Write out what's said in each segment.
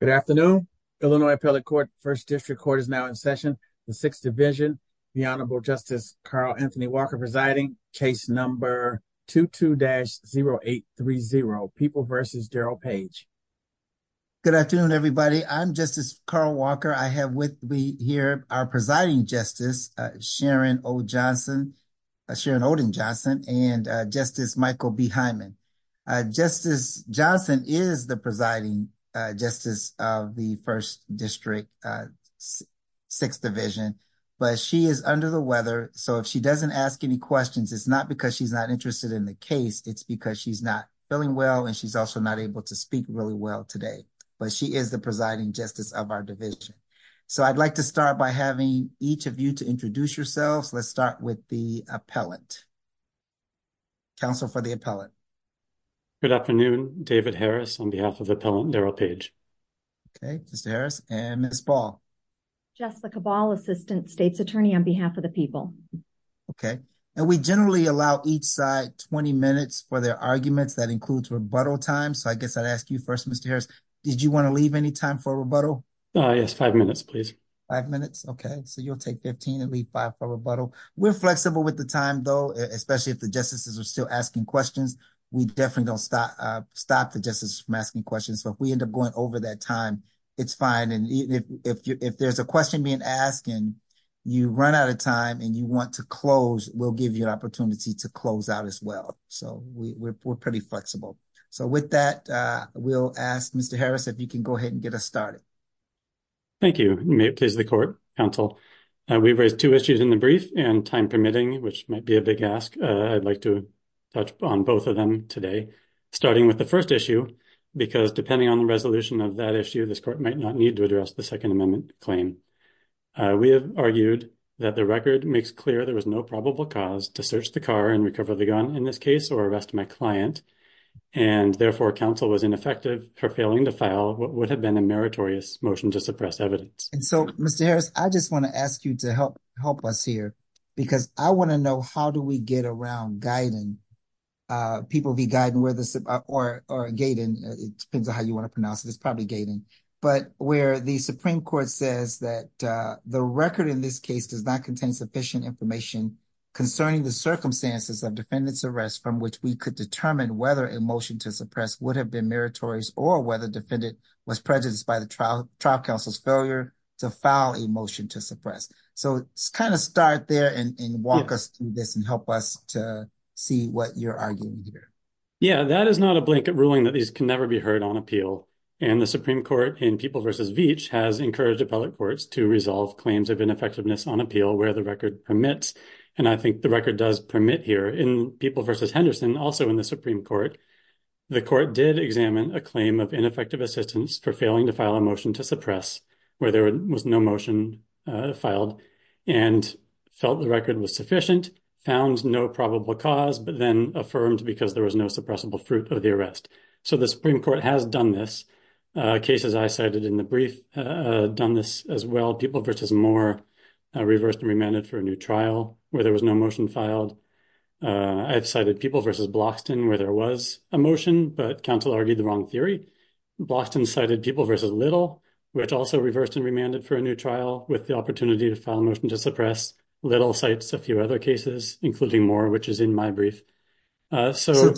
Good afternoon, Illinois Appellate Court, First District Court is now in session. The Sixth Division, the Honorable Justice Carl Anthony Walker presiding, case number 22-0830, People v. Darrell Page. Good afternoon, everybody. I'm Justice Carl Walker. I have with me here our presiding justice, Sharon O. Johnson, Sharon Oden Johnson, and Justice Michael B. Hyman. Justice Johnson is the presiding justice of the First District Sixth Division, but she is under the weather. So if she doesn't ask any questions, it's not because she's not interested in the case. It's because she's not feeling well and she's also not able to speak really well today, but she is the presiding justice of our division. So I'd like to start by having each of you to introduce yourselves. Let's start with the appellant. Counsel for the appellant. Good afternoon, David Harris on behalf of the appellant Darrell Page. Okay, Mr. Harris and Ms. Ball. Jessica Ball, Assistant State's Attorney on behalf of the people. Okay, and we generally allow each side 20 minutes for their arguments that includes rebuttal time. So I guess I'd ask you first, Mr. Harris, did you want to leave any time for rebuttal? Yes, five minutes, please. Five minutes. Okay, so you'll take 15 and leave five for rebuttal. We're flexible with the time, though, especially if the justices are still asking questions. We definitely don't stop the justices from asking questions. So if we end up going over that time, it's fine. And if there's a question being asked and you run out of time and you want to close, we'll give you an opportunity to close out as well. So we're pretty flexible. So with that, we'll ask Mr. Harris if you can go ahead and get us started. Thank you. May it please the court, counsel. We've raised two issues in the brief and time permitting, which might be a big ask. I'd like to touch on both of them today, starting with the first issue, because depending on the resolution of that issue, this court might not need to address the Second Amendment claim. We have argued that the record makes clear there was no probable cause to search the car and recover the gun in this case or arrest my client. And therefore, counsel was ineffective for failing to file what would have been a meritorious motion to suppress evidence. And so, Mr. Harris, I just want to ask you to help help us here because I want to know how do we get around guiding people be guiding where this or gating? It depends on how you want to pronounce it is probably gating. But where the Supreme Court says that the record in this case does not contain sufficient information concerning the circumstances of defendant's arrest, from which we could determine whether a motion to suppress would have been meritorious or whether defendant was prejudiced by the trial trial counsel's failure to file a motion to suppress. So it's kind of start there and walk us through this and help us to see what you're arguing here. Yeah, that is not a blanket ruling that these can never be heard on appeal. And the Supreme Court in people versus Veatch has encouraged appellate courts to resolve claims of ineffectiveness on appeal where the record permits. And I think the record does permit here in people versus Henderson, also in the Supreme Court. The court did examine a claim of ineffective assistance for failing to file a motion to suppress where there was no motion filed and felt the record was sufficient, found no probable cause, but then affirmed because there was no suppressible fruit of the arrest. So the Supreme Court has done this case, as I cited in the brief, done this as well. People versus Moore reversed and remanded for a new trial where there was no motion filed. I've cited people versus Bloxton where there was a motion, but counsel argued the wrong theory. Bloxton cited people versus Little, which also reversed and remanded for a new trial with the opportunity to file a motion to suppress. Little cites a few other cases, including Moore, which is in my brief. So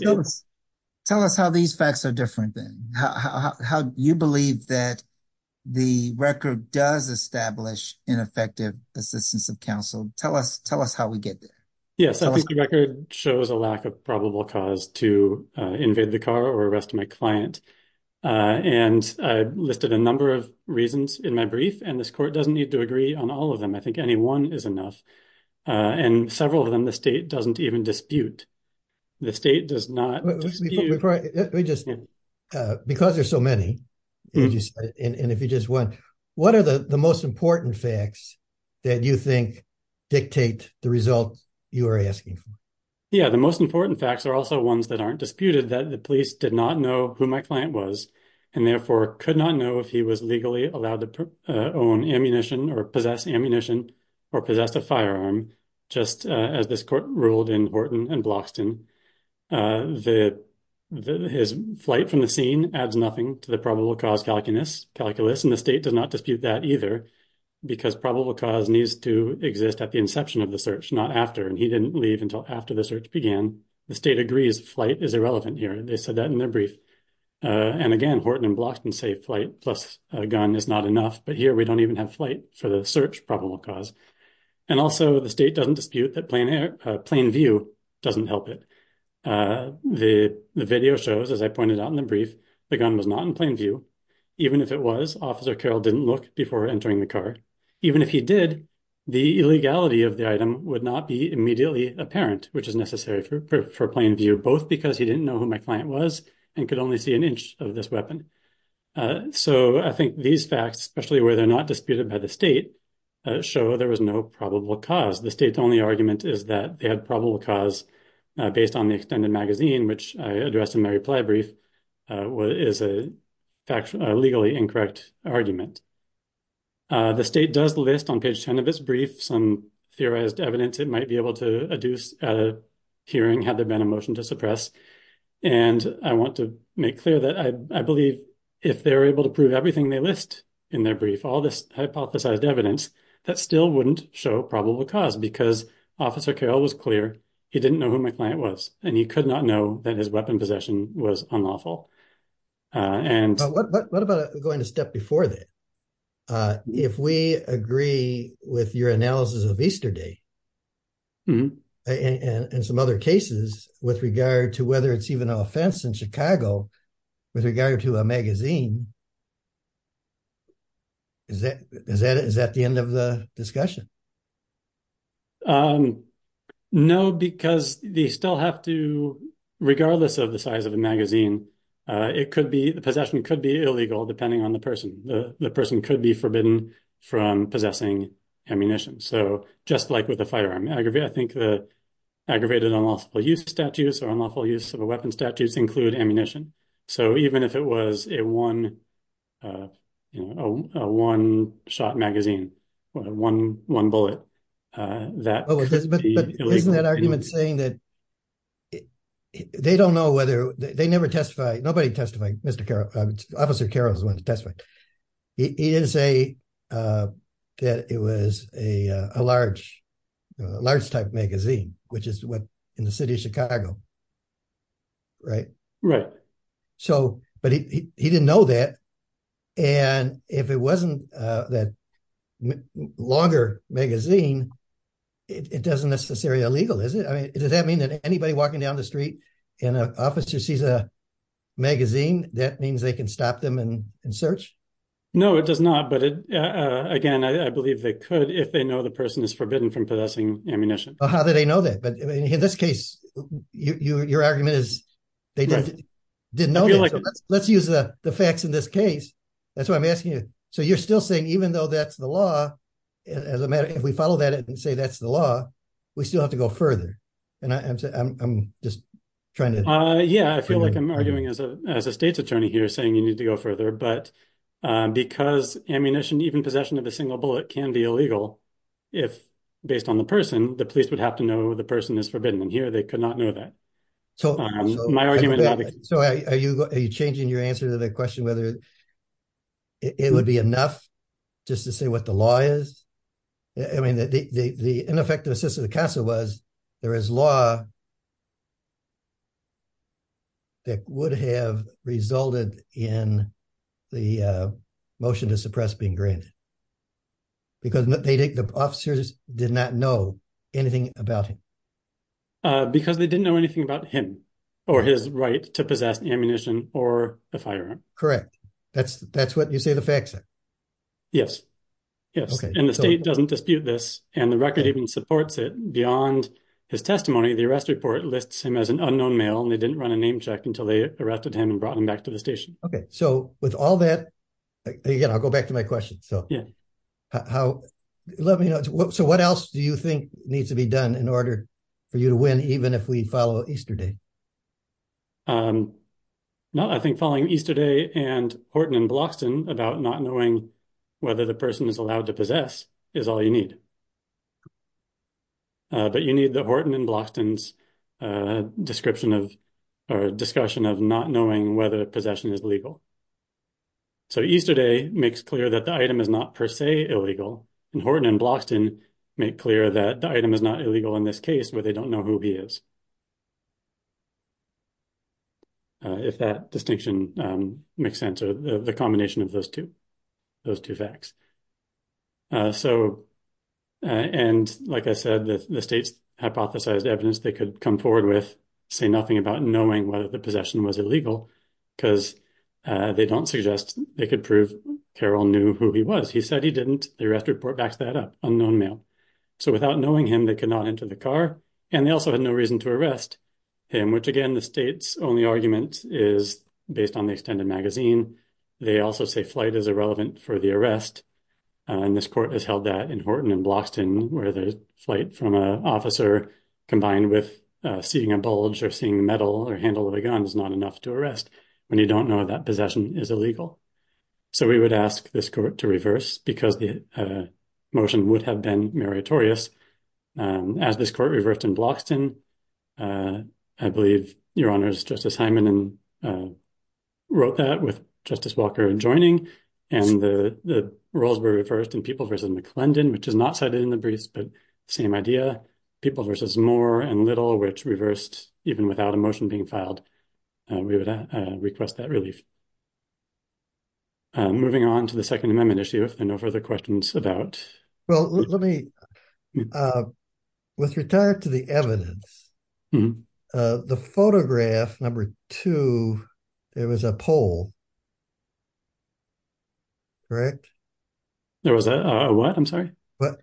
tell us how these facts are different than how you believe that the record does establish ineffective assistance of counsel. Tell us tell us how we get there. Yes, I think the record shows a lack of probable cause to invade the car or arrest my client. And I listed a number of reasons in my brief. And this court doesn't need to agree on all of them. I think any one is enough. And several of them the state doesn't even dispute. The state does not just because there's so many. And if you just want what are the most important facts that you think dictate the results you are asking for? Yeah, the most important facts are also ones that aren't disputed, that the police did not know who my client was and therefore could not know if he was legally allowed to own ammunition or possess ammunition or possess a firearm. Just as this court ruled in Horton and Bloxton, that his flight from the scene adds nothing to the probable cause calculus. And the state does not dispute that either, because probable cause needs to exist at the inception of the search, not after. And he didn't leave until after the search began. The state agrees flight is irrelevant here. They said that in their brief. And again, Horton and Bloxton say flight plus a gun is not enough. But here we don't even have flight for the search probable cause. And also the state doesn't dispute that plain view doesn't help it. The video shows, as I pointed out in the brief, the gun was not in plain view. Even if it was, Officer Carroll didn't look before entering the car. Even if he did, the illegality of the item would not be immediately apparent, which is necessary for plain view, both because he didn't know who my client was and could only see an inch of this weapon. So I think these facts, especially where they're not disputed by the state, show there was no probable cause. The state's only argument is that they had probable cause based on the extended magazine, which I addressed in my reply brief, is a factually, legally incorrect argument. The state does list on page 10 of its brief some theorized evidence it might be able to adduce at a hearing had there been a motion to suppress. And I want to make clear that I believe if they're able to prove everything they list in their brief, all this hypothesized evidence, that still wouldn't show probable cause because Officer Carroll was clear. He didn't know who my client was, and he could not know that his weapon possession was unlawful. What about going a step before that? If we agree with your analysis of Easter Day and some other cases with regard to whether it's even an offense in Chicago with regard to a magazine, is that the end of the discussion? No, because they still have to, regardless of the size of the magazine, it could be, the possession could be illegal depending on the person. The person could be forbidden from possessing ammunition. So just like with the firearm, I think the aggravated unlawful use of statutes or unlawful use of a weapon statutes include ammunition. So even if it was a one shot magazine, one bullet, that could be illegal. But isn't that argument saying that they don't know whether, they never testify, nobody testified, Officer Carroll is the one that testified. He didn't say that it was a large type magazine, which is what in the city of Chicago, right? Right. But he didn't know that. And if it wasn't that longer magazine, it doesn't necessarily illegal, is it? I mean, does that mean that anybody walking down the street and an officer sees a magazine, that means they can stop them and search? No, it does not. But again, I believe they could if they know the person is forbidden from possessing ammunition. How did they know that? But in this case, your argument is they didn't know. Let's use the facts in this case. That's what I'm asking you. So you're still saying even though that's the law, as a matter, if we follow that and say that's the law, we still have to go further. And I'm just trying to. Yeah, I feel like I'm arguing as a state's attorney here saying you need to go further. But because ammunition, even possession of a single bullet can be illegal if based on the person, the police would have to know the person is forbidden. And here they could not know that. So my argument. So are you changing your answer to the question whether it would be enough just to say what the law is? I mean, the ineffectiveness of the CASA was there is law. That would have resulted in the motion to suppress being granted. Because the officers did not know anything about him. Because they didn't know anything about him or his right to possess ammunition or a firearm. Correct. That's that's what you say the facts are. Yes, yes. And the state doesn't dispute this. And the record even supports it beyond his testimony. The arrest report lists him as an unknown male. And they didn't run a name check until they arrested him and brought him back to the station. OK, so with all that, again, I'll go back to my question. So how let me know. So what else do you think needs to be done in order for you to win? Even if we follow Easter Day. No, I think following Easter Day and Horton and Bloxton about not knowing whether the person is allowed to possess is all you need. But you need the Horton and Bloxton's description of our discussion of not knowing whether possession is legal. So Easter Day makes clear that the item is not per se illegal. And Horton and Bloxton make clear that the item is not illegal in this case where they don't know who he is. If that distinction makes sense or the combination of those two, those two facts. So and like I said, the state's hypothesized evidence they could come forward with say nothing about knowing whether the possession was illegal. Because they don't suggest they could prove Carroll knew who he was. He said he didn't. The arrest report backs that up. Unknown male. So without knowing him, they could not enter the car. And they also had no reason to arrest him, which, again, the state's only argument is based on the extended magazine. They also say flight is irrelevant for the arrest. And this court has held that in Horton and Bloxton where the flight from an officer combined with seeing a bulge or seeing metal or handle of a gun is not enough to arrest when you don't know that possession is illegal. So we would ask this court to reverse because the motion would have been meritorious. As this court reversed in Bloxton, I believe your honors, Justice Hyman and wrote that with Justice Walker and joining. And the roles were reversed in people versus McClendon, which is not cited in the briefs. But same idea people versus more and little, which reversed even without a motion being filed. We would request that relief. Moving on to the Second Amendment issue and no further questions about. Well, let me with regard to the evidence, the photograph. Number two, there was a poll. Correct. There was a what I'm sorry, but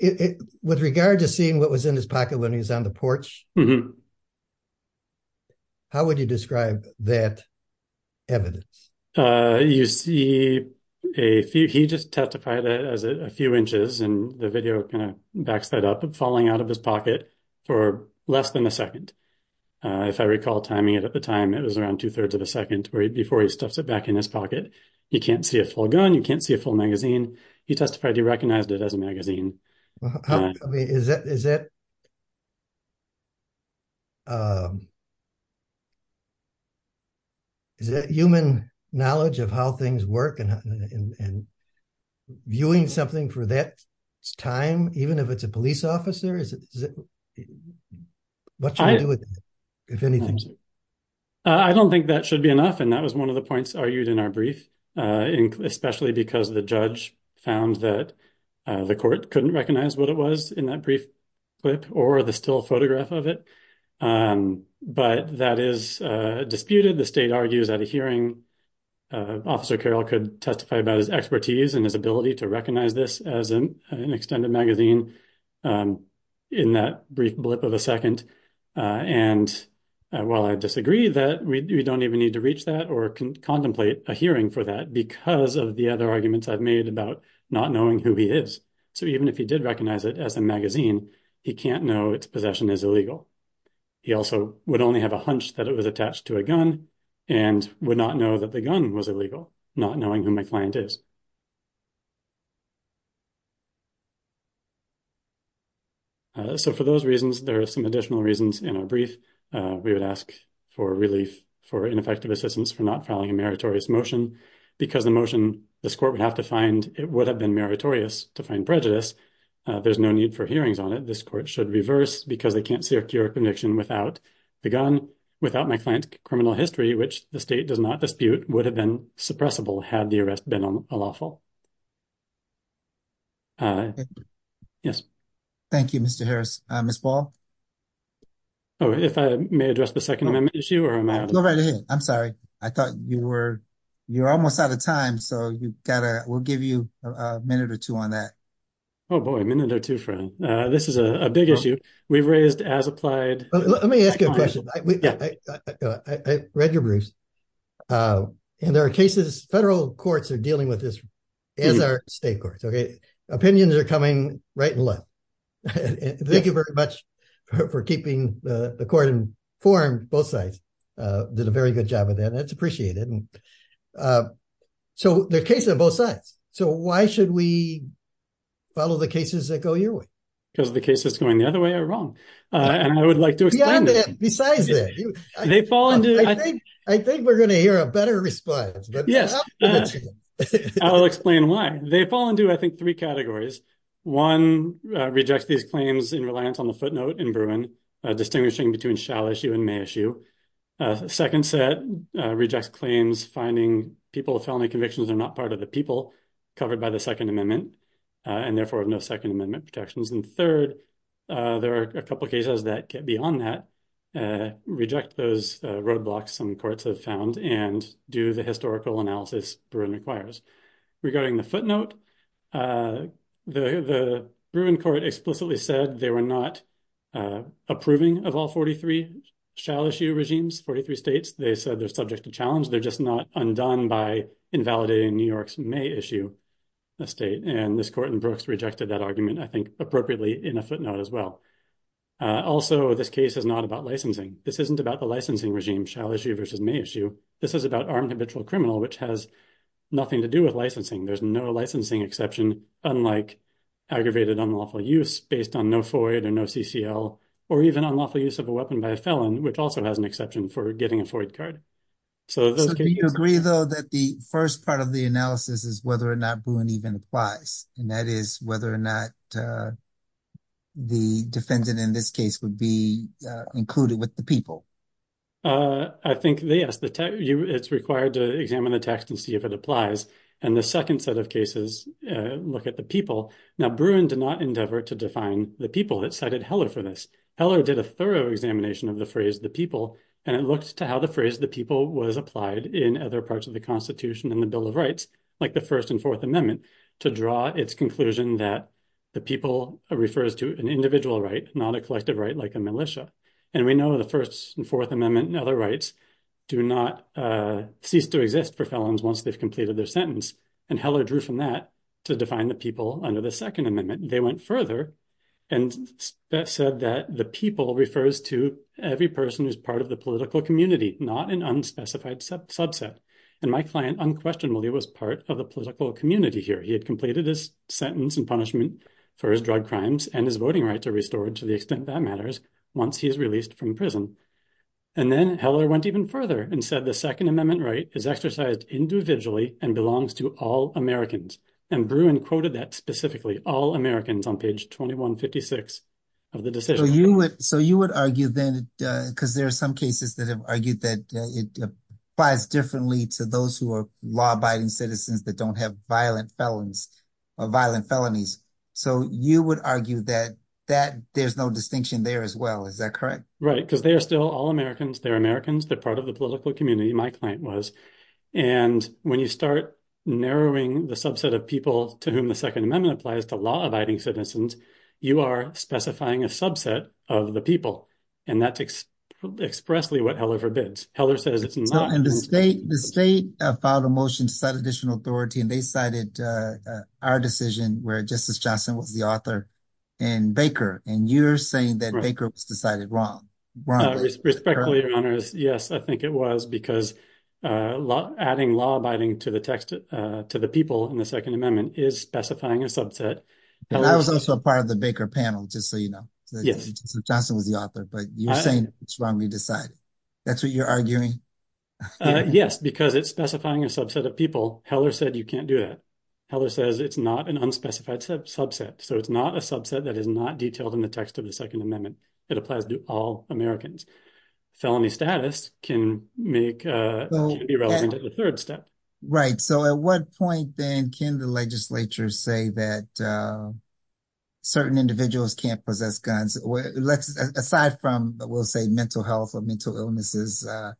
with regard to seeing what was in his pocket when he's on the porch. How would you describe that evidence? You see a few. He just testified as a few inches and the video kind of backs that up and falling out of his pocket for less than a second. If I recall timing it at the time, it was around two thirds of a second before he stuffs it back in his pocket. You can't see a full gun. You can't see a full magazine. He testified. He recognized it as a magazine. Is that is that. Is that human knowledge of how things work and viewing something for that time, even if it's a police officer, is it what I do with it, if anything? I don't think that should be enough. And that was one of the points argued in our brief, especially because the judge found that the court couldn't recognize what it was in that brief clip or the still photograph of it. But that is disputed. The state argues at a hearing, Officer Carroll could testify about his expertise and his ability to recognize this as an extended magazine in that brief blip of a second. And while I disagree that we don't even need to reach that or contemplate a hearing for that because of the other arguments I've made about not knowing who he is. So even if he did recognize it as a magazine, he can't know its possession is illegal. He also would only have a hunch that it was attached to a gun and would not know that the gun was illegal, not knowing who my client is. So for those reasons, there are some additional reasons in our brief. We would ask for relief for ineffective assistance for not filing a meritorious motion because the motion this court would have to find it would have been meritorious to find prejudice. There's no need for hearings on it. This court should reverse because they can't secure a conviction without the gun, without my client's criminal history, which the state does not dispute, would have been suppressible had the arrest been unlawful. Yes. Thank you, Mr. Harris. Miss Ball. Oh, if I may address the second amendment issue or am I. Go right ahead. I'm sorry. I thought you were, you're almost out of time. So you've got to, we'll give you a minute or two on that. Oh boy, a minute or two, Fran. This is a big issue. We've raised as applied. Let me ask you a question. I read your briefs. And there are cases, federal courts are dealing with this as are state courts. Okay. Opinions are coming right and left. Thank you very much for keeping the court in form, both sides. Did a very good job of that. That's appreciated. So there are cases on both sides. So why should we follow the cases that go your way? Because the case is going the other way or wrong. And I would like to explain that. Besides that, I think we're going to hear a better response. Yes. I'll explain why. They fall into, I think, three categories. One rejects these claims in reliance on the footnote in Bruin, distinguishing between shall issue and may issue. Second set rejects claims finding people with felony convictions are not part of the people covered by the Second Amendment and therefore have no Second Amendment protections. And third, there are a couple of cases that get beyond that, reject those roadblocks some courts have found and do the historical analysis Bruin requires. Regarding the footnote, the Bruin court explicitly said they were not approving of all 43 shall issue regimes, 43 states. They said they're subject to challenge. They're just not undone by invalidating New York's may issue a state. And this court in Brooks rejected that argument, I think appropriately in a footnote as well. Also, this case is not about licensing. This isn't about the licensing regime shall issue versus may issue. This is about armed habitual criminal, which has nothing to do with licensing. There's no licensing exception, unlike aggravated unlawful use based on no FOIA or no CCL or even unlawful use of a weapon by a felon, which also has an exception for getting a FOIA card. So do you agree, though, that the first part of the analysis is whether or not Bruin even applies, and that is whether or not the defendant in this case would be included with the people? I think, yes, it's required to examine the text and see if it applies. And the second set of cases look at the people. Now, Bruin did not endeavor to define the people that cited Heller for this. Heller did a thorough examination of the phrase the people, and it looks to how the phrase the people was applied in other parts of the Constitution and the Bill of Rights, like the First and Fourth Amendment, to draw its conclusion that the people refers to an individual right, not a collective right like a militia. And we know the First and Fourth Amendment and other rights do not cease to exist for felons once they've completed their sentence. And Heller drew from that to define the people under the Second Amendment. They went further and said that the people refers to every person who's part of the political community, not an unspecified subset. And my client unquestionably was part of the political community here. He had completed his sentence and punishment for his drug crimes and his voting rights are restored to the extent that matters once he is released from prison. And then Heller went even further and said the Second Amendment right is exercised individually and belongs to all Americans. And Bruin quoted that specifically, all Americans on page 2156 of the decision. So you would so you would argue then because there are some cases that have argued that it applies differently to those who are law abiding citizens that don't have violent felons or violent felonies. So you would argue that that there's no distinction there as well. Is that correct? Right, because they are still all Americans. They're Americans. They're part of the political community. My client was. And when you start narrowing the subset of people to whom the Second Amendment applies to law abiding citizens, you are specifying a subset of the people. And that's expressly what Heller forbids. Heller says it's not in the state. The state filed a motion to set additional authority and they cited our decision where Justice Johnson was the author and Baker. And you're saying that Baker was decided wrong. Respectfully, your honors. Yes, I think it was because adding law abiding to the text to the people in the Second Amendment is specifying a subset. And I was also a part of the Baker panel, just so you know. Yes. Johnson was the author, but you're saying it's wrongly decided. That's what you're arguing. Yes, because it's specifying a subset of people. Heller said you can't do that. Heller says it's not an unspecified subset, so it's not a subset that is not detailed in the text of the Second Amendment. It applies to all Americans. Felony status can make the third step. Right. So at what point then can the legislature say that certain individuals can't possess guns? Aside from, we'll say mental health or mental illnesses. So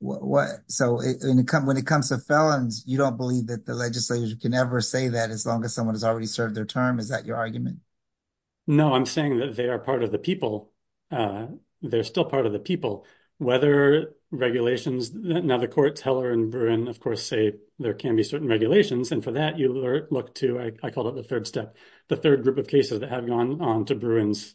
when it comes to felons, you don't believe that the legislature can ever say that as long as someone has already served their term. Is that your argument? No, I'm saying that they are part of the people. They're still part of the people. Whether regulations in other courts, Heller and Bruin, of course, say there can be certain regulations. And for that, you look to, I call it the third step, the third group of cases that have gone on to Bruin's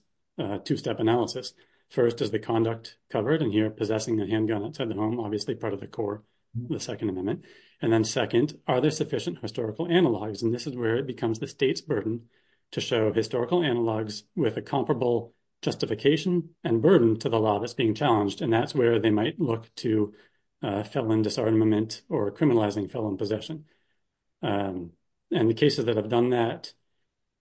two-step analysis. First is the conduct covered in here, possessing a handgun outside the home, obviously part of the core, the Second Amendment. And then second, are there sufficient historical analogs? And this is where it becomes the state's burden to show historical analogs with a comparable justification and burden to the law that's being challenged. And that's where they might look to felon disarmament or criminalizing felon possession. And the cases that have done that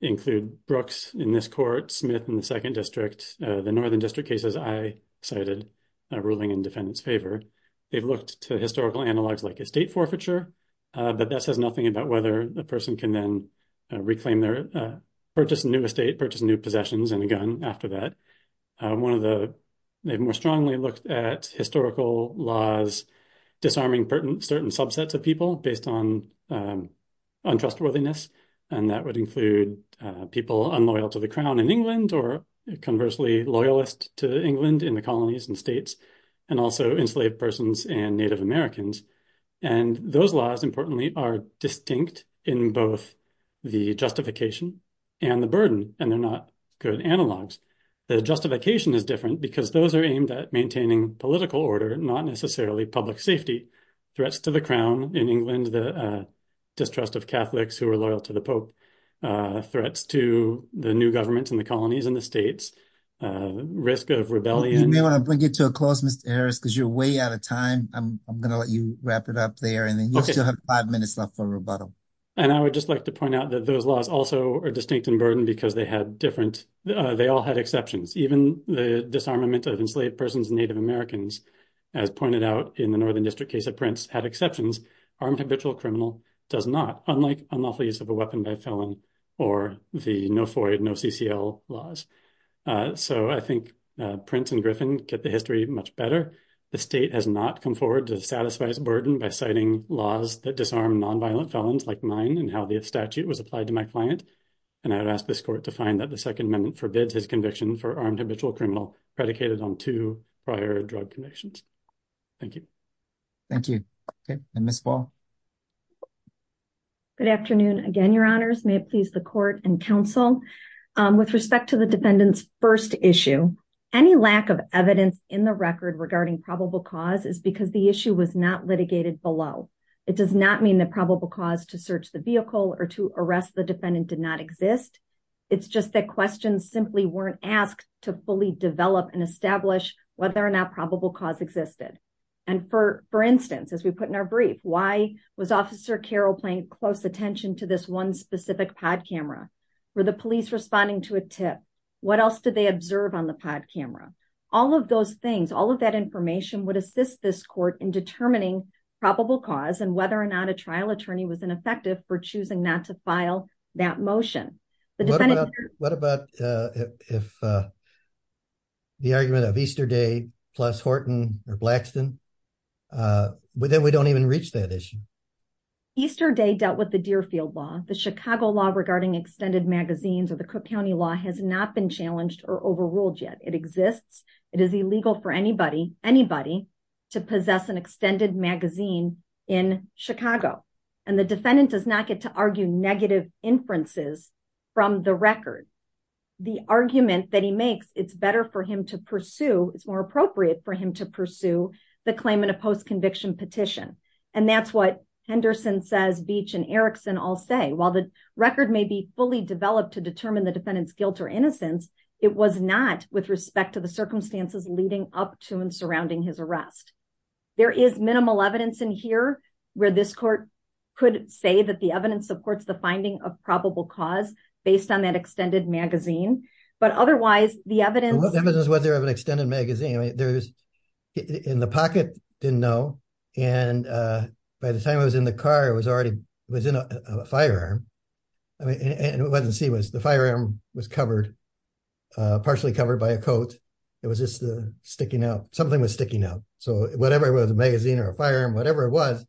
include Brooks in this court, Smith in the second district, the northern district cases I cited ruling in defendant's favor. They've looked to historical analogs like estate forfeiture, but that says nothing about whether the person can then reclaim their purchase new estate, purchase new possessions and a gun after that. They've more strongly looked at historical laws disarming certain subsets of people based on untrustworthiness. And that would include people unloyal to the crown in England or conversely loyalist to England in the colonies and states, and also enslaved persons and Native Americans. And those laws, importantly, are distinct in both the justification and the burden, and they're not good analogs. The justification is different because those are aimed at maintaining political order, not necessarily public safety. Threats to the crown in England, the distrust of Catholics who are loyal to the pope, threats to the new governments in the colonies and the states, risk of rebellion. You may want to bring it to a close, Mr. Harris, because you're way out of time. I'm going to let you wrap it up there, and then you still have five minutes left for rebuttal. And I would just like to point out that those laws also are distinct in burden because they all had exceptions. Even the disarmament of enslaved persons and Native Americans, as pointed out in the Northern District case of Prince, had exceptions. Armed habitual criminal does not, unlike unlawful use of a weapon by a felon or the no FOIA, no CCL laws. So I think Prince and Griffin get the history much better. The state has not come forward to satisfy its burden by citing laws that disarm nonviolent felons like mine and how the statute was applied to my client. And I would ask this court to find that the Second Amendment forbids his conviction for armed habitual criminal predicated on two prior drug convictions. Thank you. Thank you. And Ms. Ball. Good afternoon again, Your Honors. May it please the court and counsel. With respect to the defendant's first issue, any lack of evidence in the record regarding probable cause is because the issue was not litigated below. It does not mean that probable cause to search the vehicle or to arrest the defendant did not exist. It's just that questions simply weren't asked to fully develop and establish whether or not probable cause existed. And for instance, as we put in our brief, why was Officer Carroll paying close attention to this one specific pod camera? Were the police responding to a tip? What else did they observe on the pod camera? All of those things, all of that information would assist this court in determining probable cause and whether or not a trial attorney was ineffective for choosing not to file that motion. What about if the argument of Easter Day plus Horton or Blackston, then we don't even reach that issue. Easter Day dealt with the Deerfield law, the Chicago law regarding extended magazines or the Cook County law has not been challenged or overruled yet. It exists. It is illegal for anybody, anybody to possess an extended magazine in Chicago. And the defendant does not get to argue negative inferences from the record. The argument that he makes, it's better for him to pursue, it's more appropriate for him to pursue the claim in a post conviction petition. And that's what Henderson says, Beach and Erickson all say. While the record may be fully developed to determine the defendant's guilt or innocence, it was not with respect to the circumstances leading up to and surrounding his arrest. There is minimal evidence in here where this court could say that the evidence supports the finding of probable cause based on that extended magazine. But otherwise, the evidence was there of an extended magazine. I mean, there's in the pocket, didn't know. And by the time I was in the car, I was already was in a firearm. I mean, it wasn't see was the firearm was covered, partially covered by a coat. It was just sticking out. Something was sticking out. So whatever it was, a magazine or a firearm, whatever it was.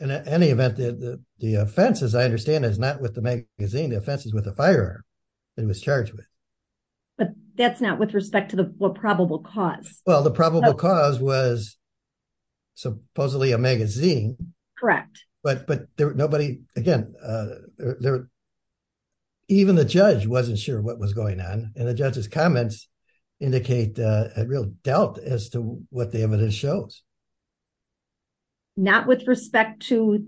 In any event, the offense, as I understand, is not with the magazine offenses with a firearm. It was charged with. But that's not with respect to the probable cause. Well, the probable cause was supposedly a magazine. Correct. But but nobody again. Even the judge wasn't sure what was going on. And the judge's comments indicate a real doubt as to what the evidence shows. Not with respect to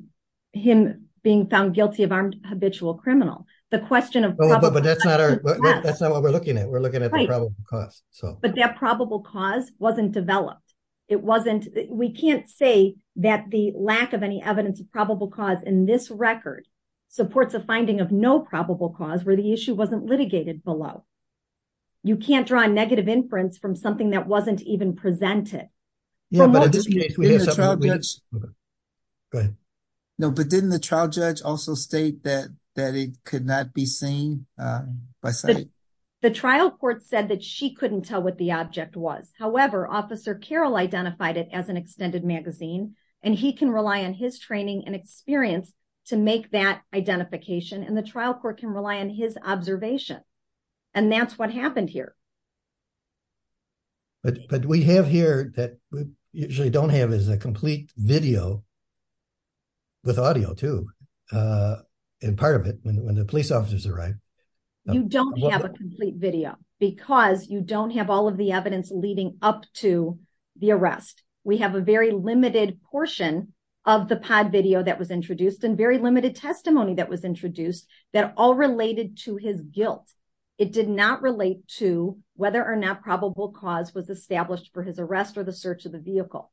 him being found guilty of armed habitual criminal. The question of. But that's not what we're looking at. We're looking at the probable cause. But that probable cause wasn't developed. It wasn't. We can't say that the lack of any evidence of probable cause in this record supports a finding of no probable cause where the issue wasn't litigated below. You can't draw a negative inference from something that wasn't even presented. Yeah, but it's. No, but didn't the trial judge also state that that it could not be seen by. The trial court said that she couldn't tell what the object was. However, Officer Carol identified it as an extended magazine and he can rely on his training and experience to make that identification and the trial court can rely on his observation. And that's what happened here. But we have here that we usually don't have is a complete video. With audio too, and part of it when the police officers arrive. You don't have a complete video because you don't have all of the evidence leading up to the arrest. We have a very limited portion of the pod video that was introduced and very limited testimony that was introduced that all related to his guilt. It did not relate to whether or not probable cause was established for his arrest or the search of the vehicle.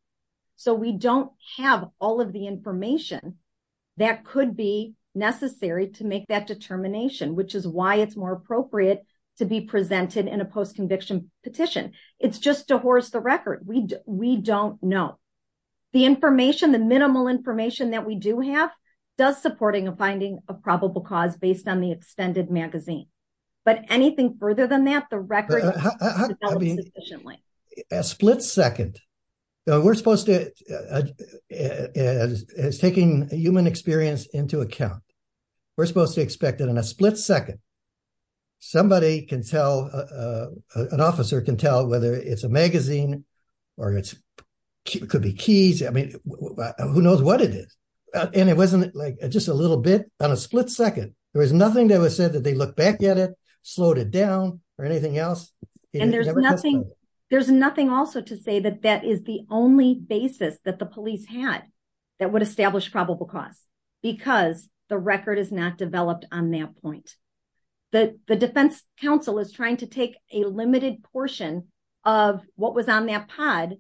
So we don't have all of the information that could be necessary to make that determination, which is why it's more appropriate to be presented in a post conviction petition. It's just to horse the record, we, we don't know the information the minimal information that we do have does supporting a finding of probable cause based on the extended magazine. But anything further than that the record. A split second. We're supposed to as taking human experience into account. We're supposed to expect it in a split second. Somebody can tell an officer can tell whether it's a magazine, or it's could be keys I mean, who knows what it is. And it wasn't like just a little bit on a split second, there was nothing that was said that they look back at it, slow it down, or anything else. There's nothing. There's nothing also to say that that is the only basis that the police had that would establish probable cause, because the record is not developed on that point that the Defense Council is trying to take a limited portion of what was on that pod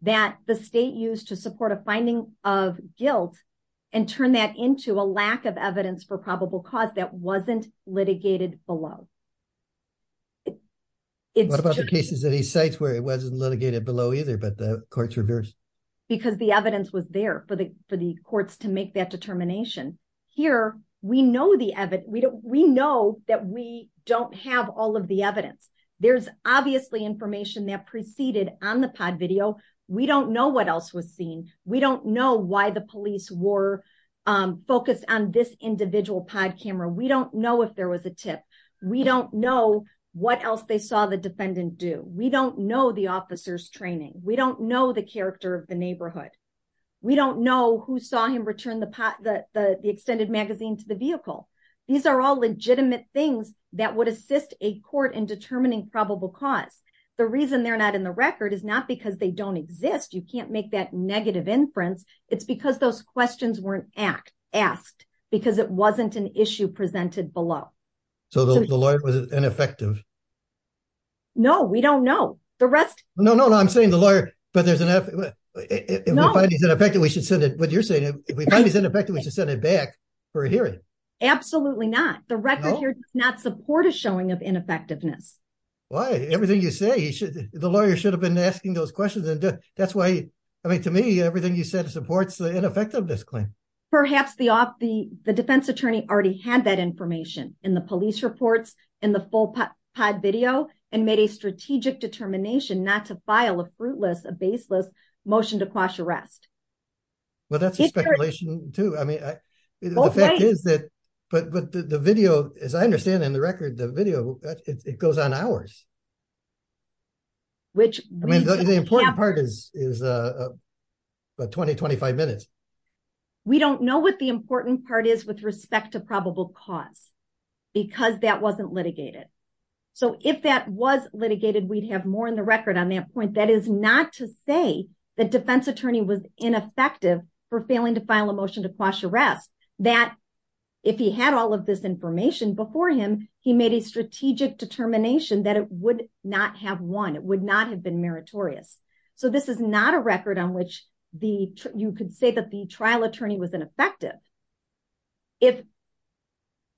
that the state used to support a finding of guilt and turn that into a lack of evidence for probable cause that wasn't litigated below. It's cases that he says where it wasn't litigated below either but the courts reversed, because the evidence was there for the, for the courts to make that determination. Here, we know the evidence we don't we know that we don't have all of the evidence. There's obviously information that preceded on the pod video. We don't know what else was seen. We don't know why the police were focused on this individual pod camera we don't know if there was a tip. We don't know what else they saw the defendant do we don't know the officers training, we don't know the character of the neighborhood. We don't know who saw him return the pot that the extended magazine to the vehicle. These are all legitimate things that would assist a court in determining probable cause. The reason they're not in the record is not because they don't exist you can't make that negative inference. It's because those questions weren't asked, asked, because it wasn't an issue presented below. So the lawyer was ineffective. No, we don't know the rest. No, no, no, I'm saying the lawyer, but there's enough effective we should send it with you're saying if we find is ineffective we should send it back for a hearing. Absolutely not the record here, not support a showing of ineffectiveness. Why everything you say you should, the lawyer should have been asking those questions and that's why I mean to me everything you said supports the ineffectiveness claim, perhaps the off the, the defense attorney already had that information in the police reports in the full pod video and made a strategic determination not to file a fruitless a baseless motion to quash arrest. But that's a speculation, too. I mean, is that, but the video, as I understand in the record the video, it goes on hours, which means that the important part is, is a 20-25 minutes. We don't know what the important part is with respect to probable cause, because that wasn't litigated. So if that was litigated we'd have more in the record on that point that is not to say that defense attorney was ineffective for failing to file a motion to quash arrest that if he had all of this information before him, he made a strategic determination that it would not have won it would not have been meritorious. So this is not a record on which the, you could say that the trial attorney was ineffective. If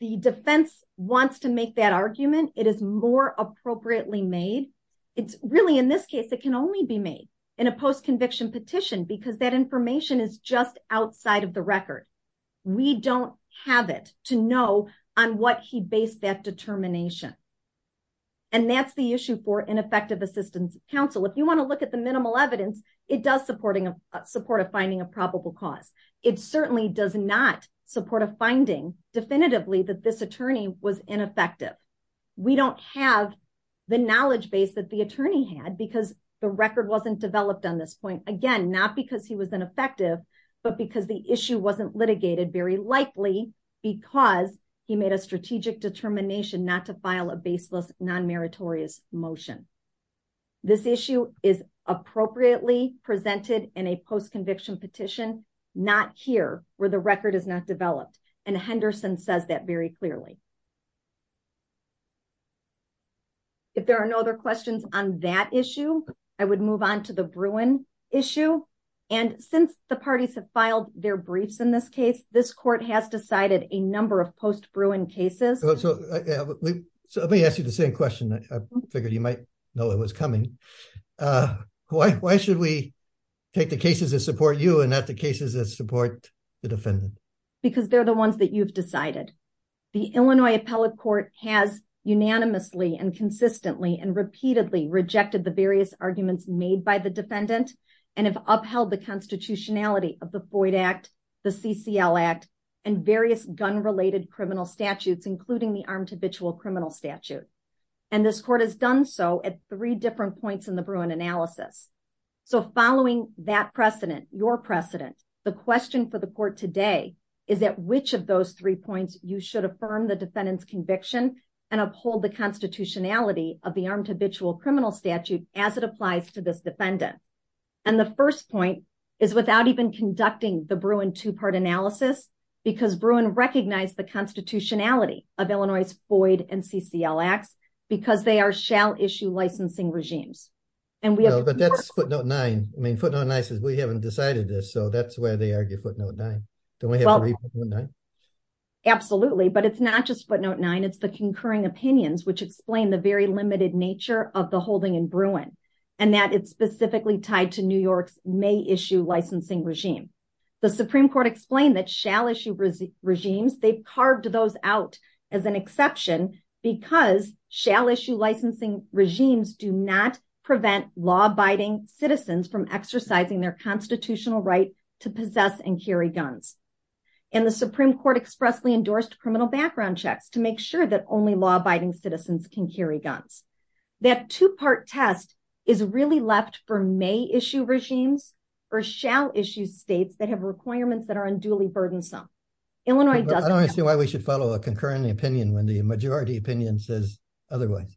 the defense wants to make that argument, it is more appropriately made. It's really in this case it can only be made in a post conviction petition because that information is just outside of the record. We don't have it to know on what he based that determination. And that's the issue for ineffective assistance counsel if you want to look at the minimal evidence, it does supporting a supportive finding a probable cause. It certainly does not support a finding definitively that this attorney was ineffective. We don't have the knowledge base that the attorney had because the record wasn't developed on this point again not because he was ineffective, but because the issue wasn't litigated very likely because he made a strategic determination not to file a baseless non meritorious motion. This issue is appropriately presented in a post conviction petition, not here, where the record is not developed and Henderson says that very clearly. If there are no other questions on that issue, I would move on to the Bruin issue. And since the parties have filed their briefs in this case, this court has decided a number of post Bruin cases. So let me ask you the same question I figured you might know it was coming. Why should we take the cases that support you and that the cases that support the defendant, because they're the ones that you've decided the Illinois appellate court has unanimously and consistently and repeatedly rejected the various arguments made by the defendant, and criminal statute. And this court has done so at three different points in the Bruin analysis. So following that precedent, your precedent. The question for the court today is that which of those three points, you should affirm the defendants conviction and uphold the constitutionality of the arm to visual criminal statute, as it applies to this defendant. And the first point is without even conducting the Bruin two part analysis, because Bruin recognize the constitutionality of Illinois is void and CCLX, because they are shall issue licensing regimes. And we have, but that's footnote nine, I mean footnote nine says we haven't decided this so that's where they argue footnote nine. Absolutely, but it's not just footnote nine it's the concurring opinions which explain the very limited nature of the holding in Bruin, and that it's specifically tied to New York's may issue licensing regime. The Supreme Court explained that shall issue regime regimes they've carved those out as an exception, because shall issue licensing regimes do not prevent law abiding citizens from exercising their constitutional right to possess and carry guns. And the Supreme Court expressly endorsed criminal background checks to make sure that only law abiding citizens can carry guns. That two part test is really left for may issue regimes, or shall issue states that have requirements that are unduly burdensome. I don't see why we should follow a concurring opinion when the majority opinion says otherwise.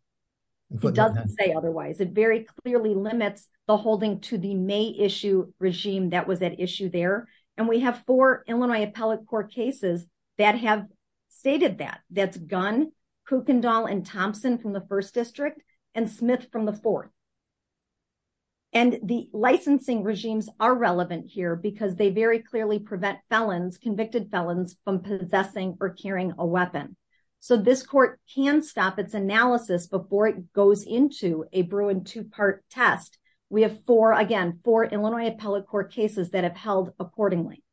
It doesn't say otherwise it very clearly limits the holding to the may issue regime that was that issue there, and we have for Illinois appellate court cases that have stated that that's gun Kuykendall and Thompson from the first district and Smith from the fourth. And the licensing regimes are relevant here because they very clearly prevent felons convicted felons from possessing or carrying a weapon. So this court can stop its analysis before it goes into a Bruin two part test, we have for again for Illinois appellate court cases that have held accordingly.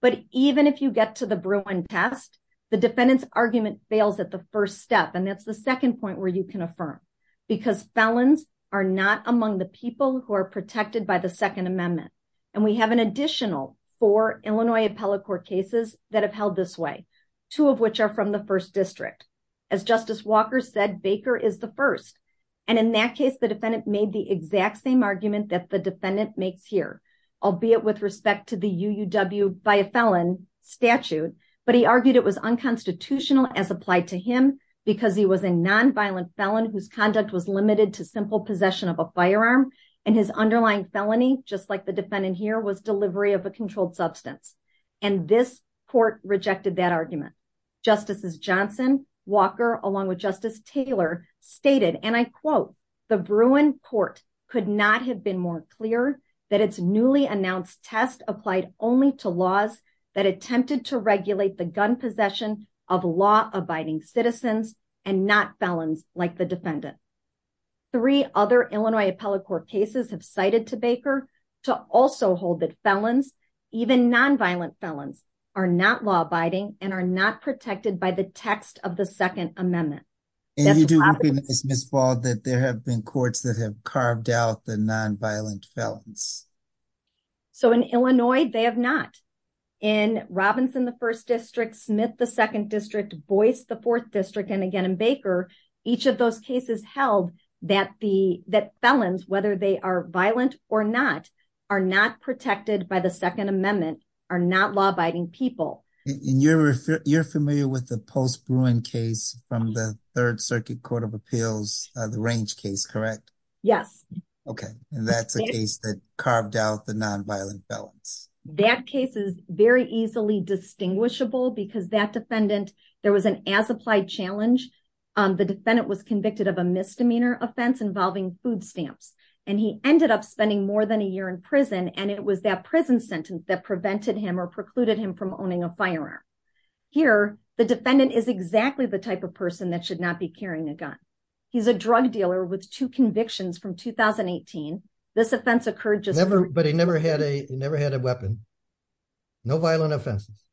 But even if you get to the Bruin test, the defendants argument fails at the first step and that's the second point where you can affirm, because felons are not among the people who are protected by the Second Amendment. And we have an additional for Illinois appellate court cases that have held this way, two of which are from the first district. As Justice Walker said Baker is the first. And in that case the defendant made the exact same argument that the defendant makes here, albeit with respect to the UW by a felon statute, but he argued it was unconstitutional as applied to him, because he was a non violent felon whose conduct was limited to simple possession of a firearm, and his underlying felony, just like the defendant here was delivery of a controlled substance. And this court rejected that argument. Justices Johnson, Walker, along with Justice Taylor stated and I quote, the Bruin court could not have been more clear that it's newly announced test applied only to laws that attempted to regulate the gun possession of law abiding citizens, and not balance, like the defendant. Three other Illinois appellate court cases have cited to Baker to also hold that felons, even non violent felons are not law abiding and are not protected by the text of the Second Amendment. Miss ball that there have been courts that have carved out the non violent felons. So in Illinois, they have not in Robinson the first district Smith the second district voice the fourth district and again in Baker, each of those cases held that the that felons whether they are violent or not, are not protected by the Second Amendment are not law abiding people in your, you're familiar with the post brewing case from the Third Circuit Court of Appeals, the range case correct. Yes. Okay. And that's a case that carved out the non violent felons that cases, very easily distinguishable because that defendant. There was an as applied challenge. The defendant was convicted of a misdemeanor offense involving food stamps, and he ended up spending more than a year in prison and it was that prison sentence that prevented him or precluded him from owning a firearm. Here, the defendant is exactly the type of person that should not be carrying a gun. He's a drug dealer with two convictions from 2018. This offense occurred just everybody never had a never had a weapon. No violent offenses,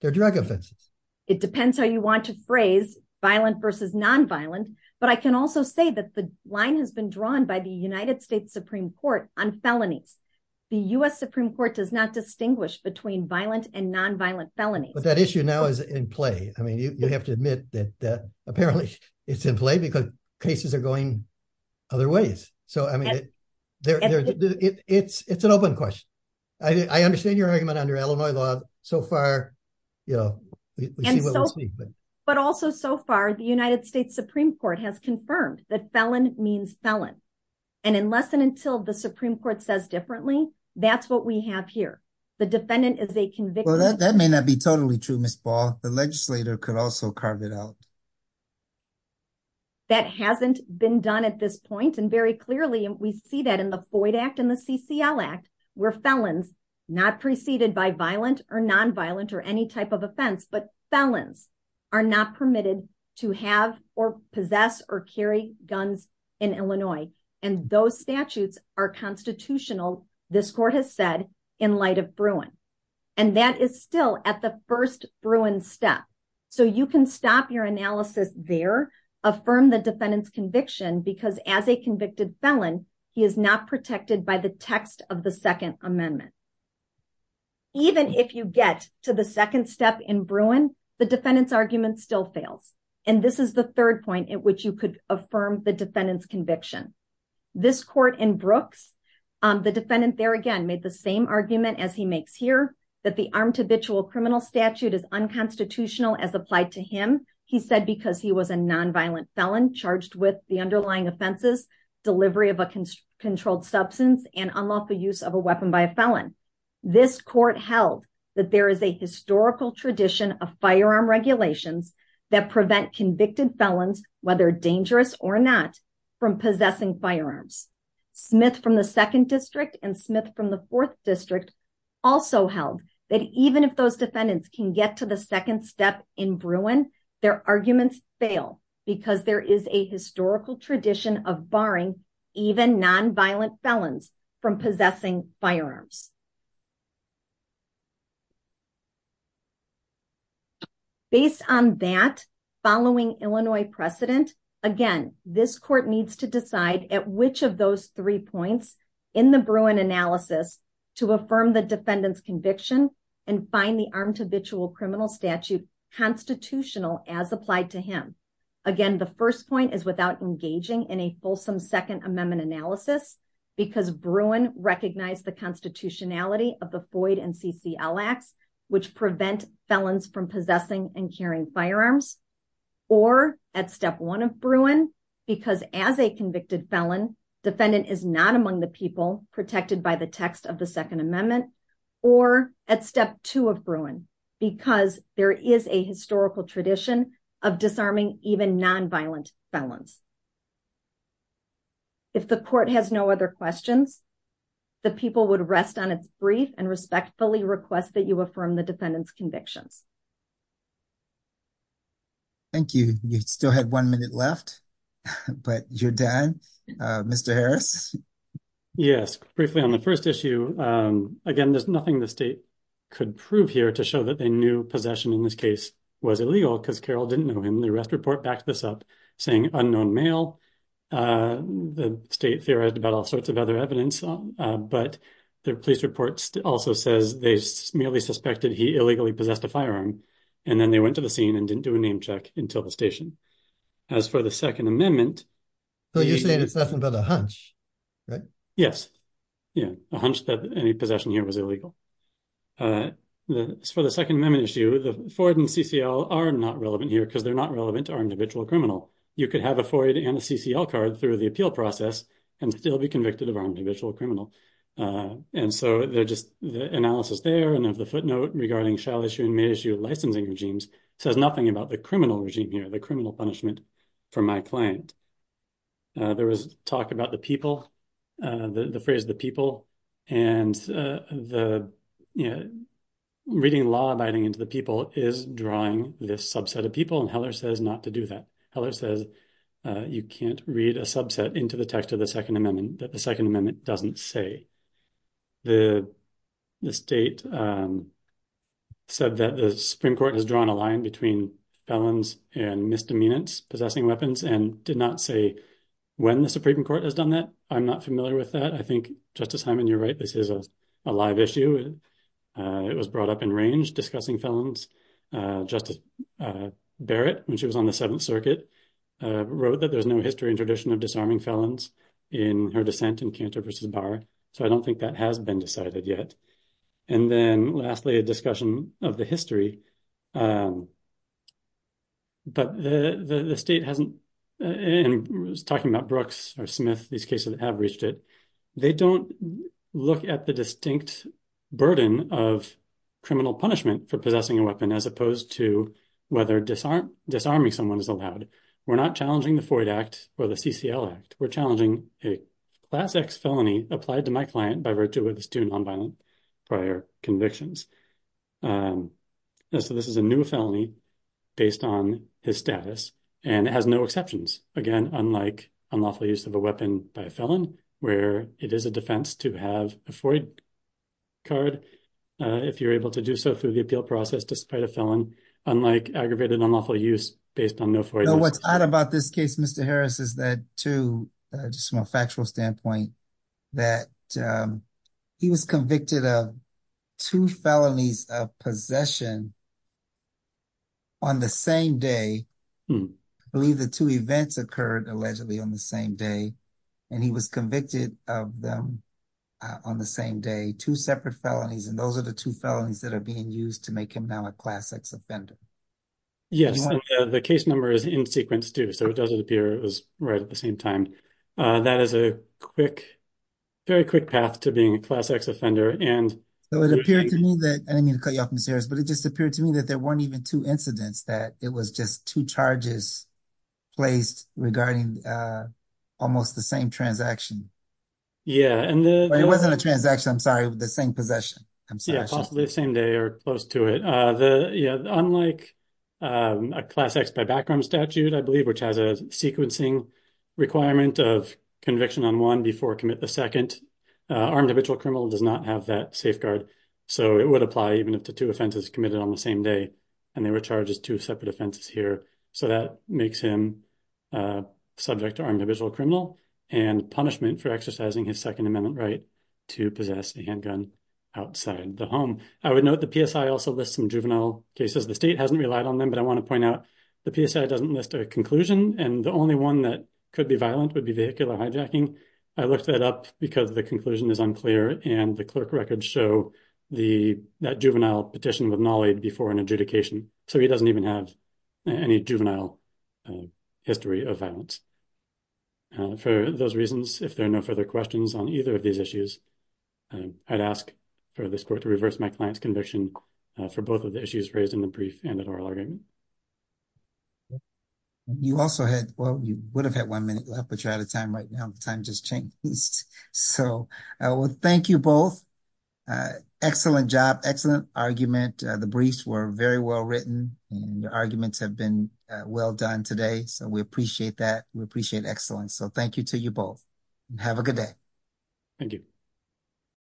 their drug offenses. It depends how you want to phrase violent versus non violent, but I can also say that the line has been drawn by the United States Supreme Court on felonies. The US Supreme Court does not distinguish between violent and non violent felony but that issue now is in play. I mean you have to admit that that apparently it's in play because cases are going other ways. So, I mean, it's an open question. I understand your argument under Illinois law. So far, you know, but also so far the United States Supreme Court has confirmed that felon means felon. And unless and until the Supreme Court says differently. That's what we have here. The defendant is a conviction that may not be totally true Miss Paul, the legislator could also carve it out. That hasn't been done at this point and very clearly and we see that in the void act and the CCL act were felons not preceded by violent or non violent or any type of offense but felons are not permitted to have or possess or carry guns in Illinois, and those statutes are constitutional. This court has said, in light of Bruin, and that is still at the first Bruin step. So you can stop your analysis there, affirm the defendant's conviction because as a convicted felon, he is not protected by the text of the Second Amendment. Even if you get to the second step in Bruin, the defendant's argument still fails. And this is the third point at which you could affirm the defendant's conviction. This court in Brooks, the defendant there again made the same argument as he makes here that the armed habitual criminal statute is unconstitutional as applied to him. He said because he was a non violent felon charged with the underlying offenses delivery of a controlled substance and unlawful use of a weapon by a felon. This court held that there is a historical tradition of firearm regulations that prevent convicted felons, whether dangerous or not, from possessing firearms. Smith from the second district and Smith from the fourth district also held that even if those defendants can get to the second step in Bruin, their arguments fail because there is a historical tradition of barring even non violent felons from possessing firearms. Based on that, following Illinois precedent, again, this court needs to decide at which of those three points in the Bruin analysis to affirm the defendant's conviction and find the armed habitual criminal statute constitutional as applied to him. Again, the first point is without engaging in a fulsome Second Amendment analysis, because Bruin recognize the constitutionality of the Floyd and CC Alex, which prevent felons from possessing and carrying firearms, or at step one of Bruin, because as a convicted felon defendant is not among the people protected by the text of the Second Amendment, or at step two of Bruin, because there is a historical tradition of disarming even non violent felons. If the court has no other questions, the people would rest on its brief and respectfully request that you affirm the defendant's convictions. Thank you. You still have one minute left, but you're done. Mr. Harris. Yes, briefly on the first issue. Again, there's nothing the state could prove here to show that they knew possession in this case was illegal because Carol didn't know him the arrest report back this up saying unknown male. The state theorized about all sorts of other evidence, but the police reports also says they merely suspected he illegally possessed a firearm, and then they went to the scene and didn't do a name check until the station. As for the Second Amendment. So you're saying it's nothing but a hunch, right? Yes. Yeah, a hunch that any possession here was illegal. For the Second Amendment issue, the Ford and CCL are not relevant here because they're not relevant to our individual criminal. You could have a Freud and a CCL card through the appeal process and still be convicted of our individual criminal. And so they're just the analysis there and of the footnote regarding shall issue and may issue licensing regimes says nothing about the criminal regime here, the criminal punishment for my client. There was talk about the people, the phrase the people, and the reading law abiding into the people is drawing this subset of people and Heller says not to do that. Heller says you can't read a subset into the text of the Second Amendment that the Second Amendment doesn't say. The state said that the Supreme Court has drawn a line between felons and misdemeanors possessing weapons and did not say when the Supreme Court has done that. I'm not familiar with that. I think Justice Simon, you're right. This is a live issue. It was brought up in range discussing felons. Justice Barrett, when she was on the Seventh Circuit, wrote that there's no history and tradition of disarming felons in her dissent in Cantor v. Barr, so I don't think that has been decided yet. And then lastly, a discussion of the history. But the state hasn't been talking about Brooks or Smith. These cases have reached it. They don't look at the distinct burden of criminal punishment for possessing a weapon as opposed to whether disarming someone is allowed. We're not challenging the FOID Act or the CCL Act. We're challenging a Class X felony applied to my client by virtue of his two nonviolent prior convictions. So this is a new felony based on his status, and it has no exceptions, again, unlike unlawful use of a weapon by a felon, where it is a defense to have a FOID card if you're able to do so through the appeal process despite a felon, unlike aggravated unlawful use based on no FOID. So what's odd about this case, Mr. Harris, is that, too, just from a factual standpoint, that he was convicted of two felonies of possession on the same day. I believe the two events occurred allegedly on the same day, and he was convicted of them on the same day, two separate felonies. And those are the two felonies that are being used to make him now a Class X offender. Yes, and the case number is in sequence, too, so it doesn't appear it was right at the same time. That is a quick, very quick path to being a Class X offender. So it appeared to me that — and I didn't mean to cut you off, Mr. Harris, but it just appeared to me that there weren't even two incidents, that it was just two charges placed regarding almost the same transaction. Yeah, and the — It wasn't a transaction, I'm sorry, the same possession. Yeah, possibly the same day or close to it. Unlike a Class X by background statute, I believe, which has a sequencing requirement of conviction on one before commit the second, armed individual criminal does not have that safeguard. So it would apply even if the two offenses committed on the same day, and they were charged as two separate offenses here. So that makes him subject to armed individual criminal and punishment for exercising his Second Amendment right to possess a handgun outside the home. I would note the PSI also lists some juvenile cases. The state hasn't relied on them, but I want to point out the PSI doesn't list a conclusion, and the only one that could be violent would be vehicular hijacking. I looked that up because the conclusion is unclear, and the clerk records show that juvenile petition with knowledge before an adjudication. So he doesn't even have any juvenile history of violence. For those reasons, if there are no further questions on either of these issues, I'd ask for this court to reverse my client's conviction for both of the issues raised in the brief and in oral argument. You also had, well, you would have had one minute left, but you're out of time right now. Time just changed. So, well, thank you both. Excellent job. Excellent argument. The briefs were very well written and the arguments have been well done today. So we appreciate that. We appreciate excellence. So thank you to you both. Have a good day. Thank you.